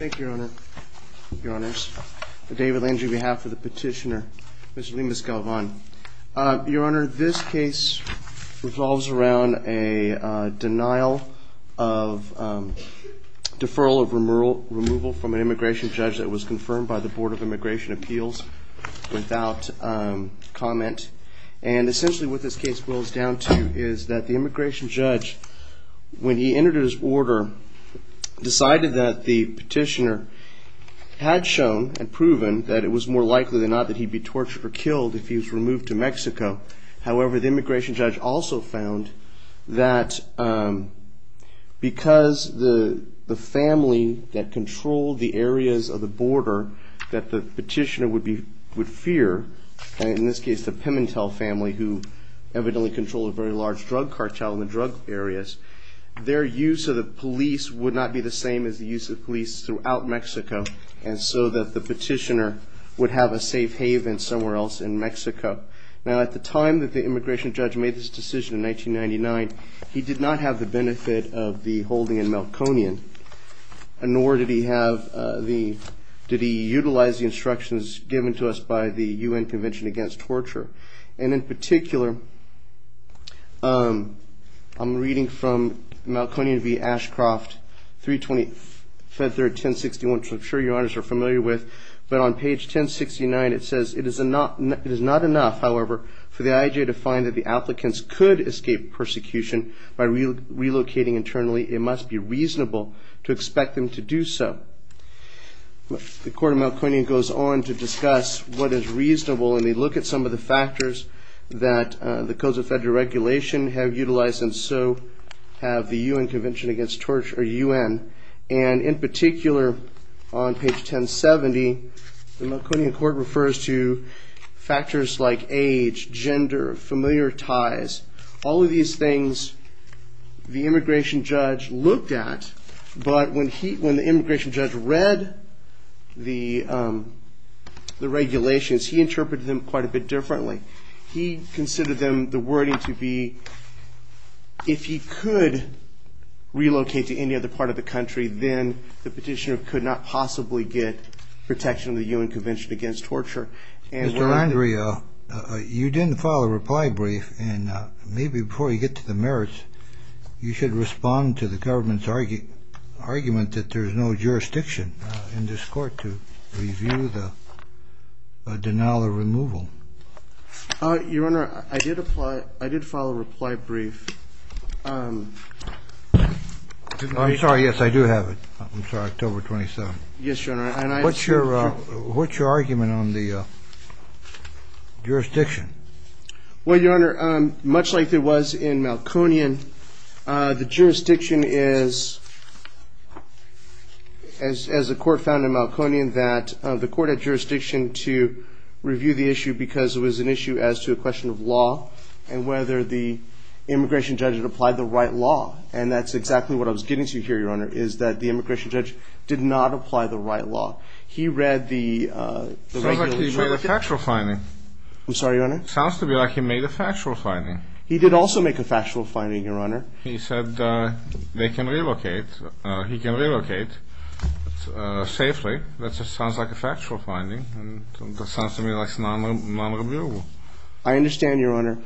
Thank you, Your Honor. Your Honors, David Lange on behalf of the petitioner, Mr. Lemus-Galvan. Your Honor, this case revolves around a denial of deferral of removal from an immigration judge that was confirmed by the Board of Immigration Appeals without comment. And essentially what this case boils down to is that the immigration judge, when he entered his order, decided that the petitioner had shown and proven that it was more likely than not that he'd be tortured or killed if he was removed to Mexico. However, the immigration judge also found that because the family that controlled the areas of the border that the petitioner would fear, in this case the Pimentel family who evidently controlled a very large drug cartel in the drug areas, their use of the police would not be the same as the use of police throughout Mexico, and so that the petitioner would have a safe haven somewhere else in Mexico. Now, at the time that the immigration judge made this decision in 1999, he did not have the benefit of the holding in Melkonian, nor did he utilize the instructions given to us by the UN Convention Against Torture. And in particular, I'm reading from Melkonian v. Ashcroft, 320-1061, which I'm sure Your Honors are familiar with, but on page 1069 it says, it is not enough, however, for the IJ to find that the applicants could escape persecution by relocating internally. It must be reasonable to expect them to do so. The Court of Melkonian goes on to discuss what is reasonable, and they look at some of the factors that the codes of federal regulation have utilized, and so have the UN Convention Against Torture, or UN. And in particular, on page 1070, the Melkonian Court refers to factors like age, gender, familiar ties, all of these things the immigration judge looked at. But when the immigration judge read the regulations, he interpreted them quite a bit differently. He considered them, the wording to be, if he could relocate to any other part of the country, then the petitioner could not possibly get protection of the UN Convention Against Torture. Mr. Landria, you didn't file a reply brief, and maybe before you get to the merits, you should respond to the government's argument that there is no jurisdiction in this court to review the denial of removal. Your Honor, I did file a reply brief. I'm sorry, yes, I do have it. I'm sorry, October 27th. Yes, Your Honor. What's your argument on the jurisdiction? Well, Your Honor, much like there was in Melkonian, the jurisdiction is, as the court found in Melkonian, that the court had jurisdiction to review the issue because it was an issue as to a question of law, and whether the immigration judge had applied the right law. And that's exactly what I was getting to here, Your Honor, is that the immigration judge did not apply the right law. He read the regulations. It sounds like he read the factual finding. I'm sorry, Your Honor? It sounds to me like he made a factual finding. He did also make a factual finding, Your Honor. He said they can relocate, he can relocate safely. That just sounds like a factual finding. That sounds to me like it's non-reviewable. I understand, Your Honor.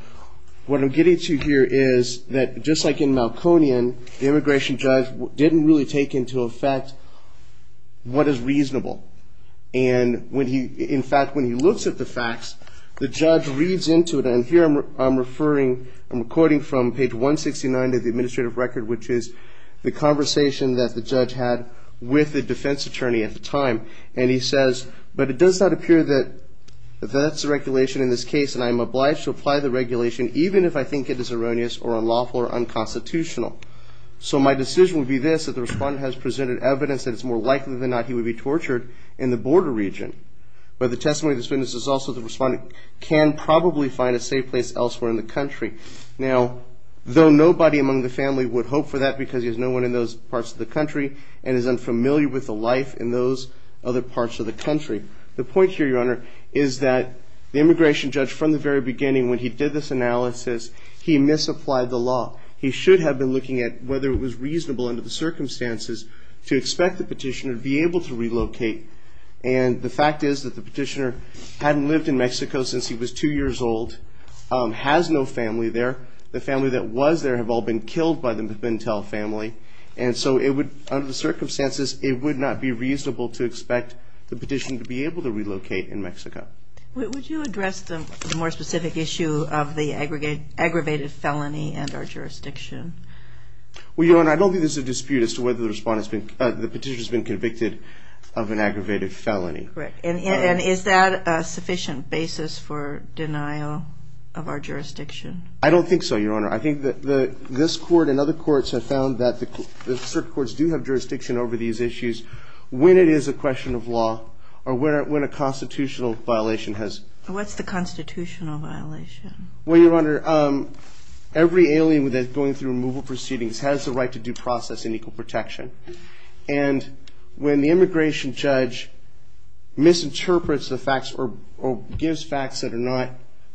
What I'm getting to here is that, just like in Melkonian, the immigration judge didn't really take into effect what is reasonable. And when he, in this case, the judge reads into it, and here I'm referring, I'm recording from page 169 of the administrative record, which is the conversation that the judge had with the defense attorney at the time. And he says, but it does not appear that that's the regulation in this case, and I'm obliged to apply the regulation, even if I think it is erroneous or unlawful or unconstitutional. So my decision would be this, that the respondent has presented evidence that it's more likely than not he would be tortured in the border region. But the testimony of this witness is also the respondent can probably find a safe place elsewhere in the country. Now, though nobody among the family would hope for that because there's no one in those parts of the country and is unfamiliar with the life in those other parts of the country. The point here, Your Honor, is that the immigration judge, from the very beginning when he did this analysis, he misapplied the law. He should have been looking at whether it was reasonable under the circumstances to expect the petitioner to be able to relocate. And the fact is that the petitioner hadn't lived in Mexico since he was two years old, has no family there. The family that was there have all been killed by the Pintel family. And so it would, under the circumstances, it would not be reasonable to expect the petitioner to be able to relocate in Mexico. Would you address the more specific issue of the aggravated felony and our jurisdiction? Well, Your Honor, I don't think there's a dispute as to whether the petitioner has been convicted of an aggravated felony. Correct. And is that a sufficient basis for denial of our jurisdiction? I don't think so, Your Honor. I think that this Court and other courts have found that certain courts do have jurisdiction over these issues when it is a question of law or when a constitutional violation has... What's the constitutional violation? Well, Your Honor, every alien that's going through removal proceedings has the right to due process and equal protection. And when the immigration judge misinterprets the facts or gives facts that are not,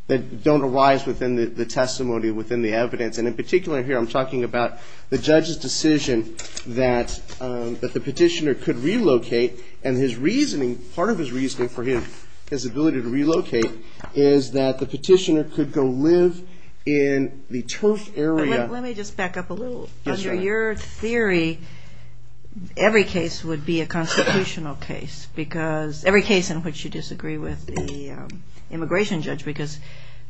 that don't arise within the testimony, within the evidence, and in particular here I'm talking about the judge's decision that the petitioner could relocate, and his reasoning, part of his reasoning for his ability to relocate, is that the petitioner could go live in the turf area... In your theory, every case would be a constitutional case because... Every case in which you disagree with the immigration judge because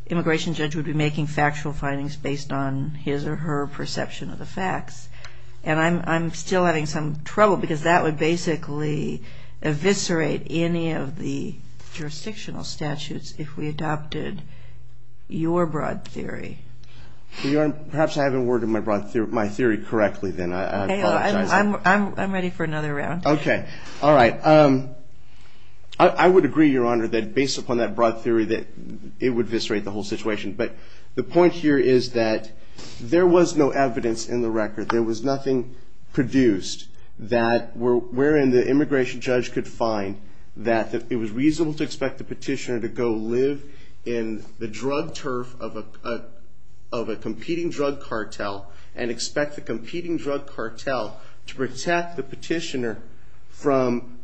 the immigration judge would be making factual findings based on his or her perception of the facts. And I'm still having some trouble because that would basically eviscerate any of the jurisdictional statutes if we adopted your broad theory. Well, Your Honor, perhaps I haven't worded my theory correctly then. I'm ready for another round. Okay. All right. I would agree, Your Honor, that based upon that broad theory that it would eviscerate the whole situation. But the point here is that there was no evidence in the record. There was nothing produced wherein the immigration judge could find that it was reasonable to expect the petitioner to go live in the drug turf of a competing drug cartel and expect the competing drug cartel to protect the petitioner from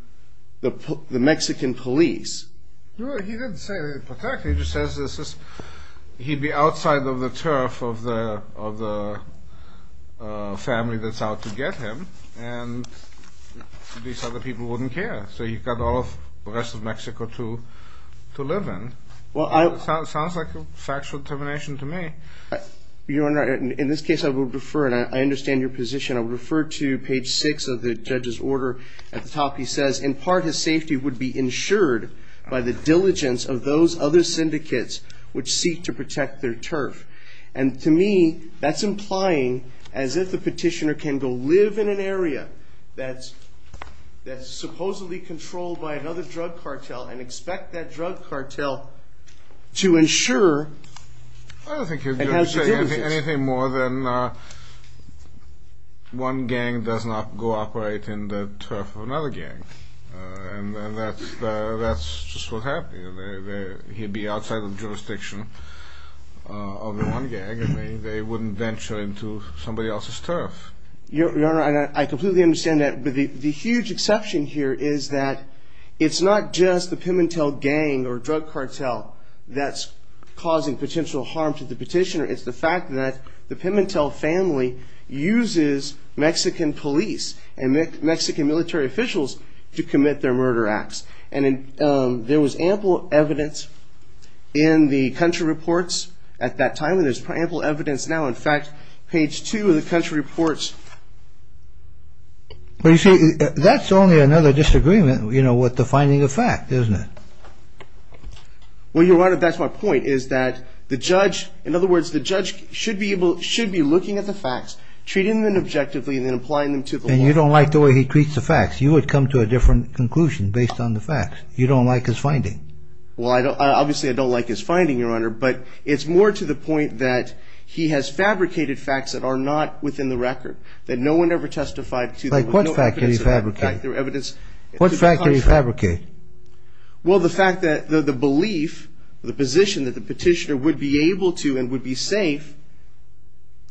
the Mexican police. Well, he didn't say protect. He just says he'd be outside of the turf of the family that's out to get him, and these other people wouldn't care. So you've got all of the rest of Mexico to live in. Well, it sounds like a factual determination to me. Your Honor, in this case I would refer, and I understand your position, I would refer to page 6 of the judge's order. At the top he says, In part, his safety would be ensured by the diligence of those other syndicates which seek to protect their turf. And to me, that's implying as if the petitioner can go live in an area that's supposedly controlled by another drug cartel and expect that drug cartel to ensure... I don't think he was going to say anything more than one gang does not cooperate in the turf of another gang. And that's just what happened. He'd be outside the jurisdiction of the one gang, and they wouldn't venture into somebody else's turf. Your Honor, I completely understand that, but the huge exception here is that it's not just the Pimentel gang or drug cartel that's causing potential harm to the petitioner. It's the fact that the Pimentel family uses Mexican police and Mexican military officials to commit their murder acts. And there was ample evidence in the country reports at that time, and there's ample evidence now. In fact, page 2 of the country reports... But you see, that's only another disagreement with the finding of fact, isn't it? Well, Your Honor, that's my point, is that the judge, in other words, the judge should be looking at the facts, treating them objectively, and then applying them to the law. And you don't like the way he treats the facts. You would come to a different conclusion based on the facts. You don't like his finding. Well, obviously I don't like his finding, Your Honor, but it's more to the point that he has fabricated facts that are not within the record, that no one ever testified to. Like what fact did he fabricate? What fact did he fabricate? Well, the fact that the belief, the position that the petitioner would be able to and would be safe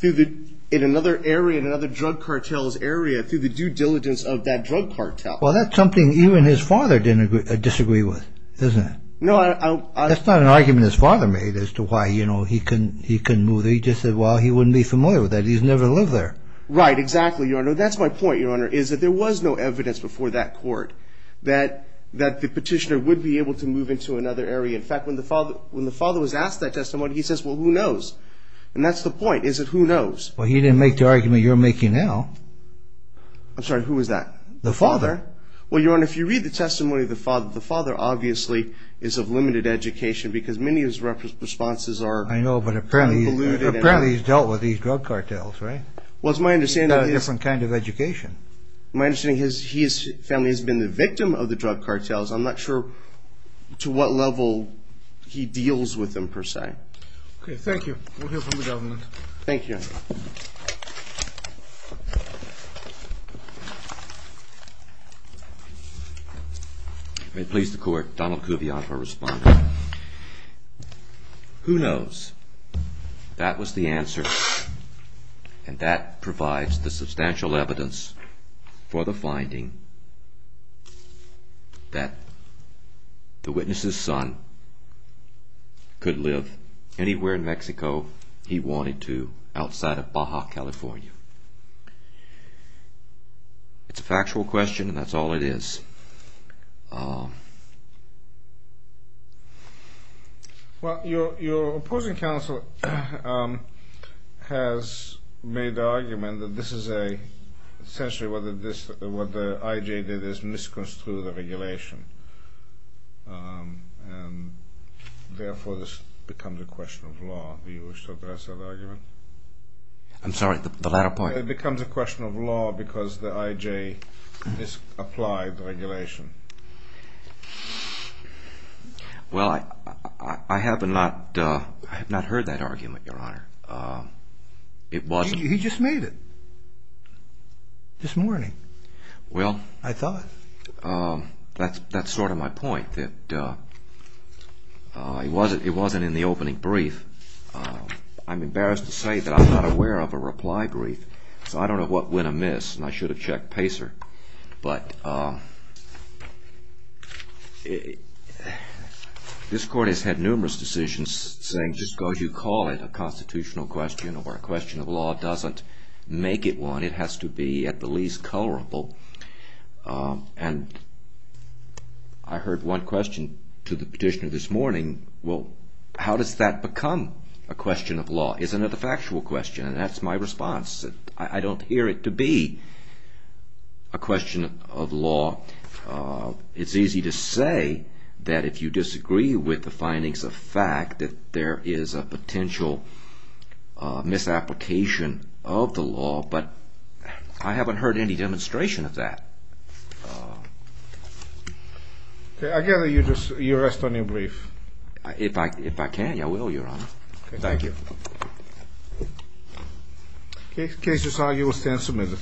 in another area, in another drug cartel's area, through the due diligence of that drug cartel. Well, that's something even his father didn't disagree with, isn't it? No, I... That's not an argument his father made as to why, you know, he couldn't move there. He just said, well, he wouldn't be familiar with that. He's never lived there. Right, exactly, Your Honor. That's my point, Your Honor, is that there was no evidence before that court that the petitioner would be able to move into another area. In fact, when the father was asked that testimony, he says, well, who knows? And that's the point, is that who knows? Well, he didn't make the argument you're making now. I'm sorry, who was that? The father. Well, Your Honor, if you read the testimony of the father, the father obviously is of limited education because many of his responses are... I know, but apparently he's dealt with these drug cartels, right? Well, it's my understanding that... He's got a different kind of education. My understanding is his family has been the victim of the drug cartels. I'm not sure to what level he deals with them, per se. Okay, thank you. We'll hear from the government. Thank you, Your Honor. May it please the Court, Donald Kuvion for a response. Who knows? That was the answer, and that provides the substantial evidence for the finding that the witness's son could live anywhere in Mexico he wanted to outside of Baja, California. It's a factual question, and that's all it is. Well, your opposing counsel has made the argument that this is a... essentially what the IJ did is misconstrued the regulation, and therefore this becomes a question of law. Do you wish to address that argument? I'm sorry, the latter part. It becomes a question of law because the IJ misapplied the regulation. Well, I have not heard that argument, Your Honor. He just made it this morning, I thought. That's sort of my point, that it wasn't in the opening brief. I'm embarrassed to say that I'm not aware of a reply brief, so I don't know what went amiss, and I should have checked PACER, but this Court has had numerous decisions saying, just because you call it a constitutional question or a question of law doesn't make it one. It has to be at the least colorable, and I heard one question to the petitioner this morning. Well, how does that become a question of law? Isn't it a factual question? And that's my response. I don't hear it to be a question of law. It's easy to say that if you disagree with the findings of fact that there is a potential misapplication of the law, but I haven't heard any demonstration of that. Okay, I gather you rest on your brief. If I can, I will, Your Honor. Thank you. The case is on. You will stand submitted.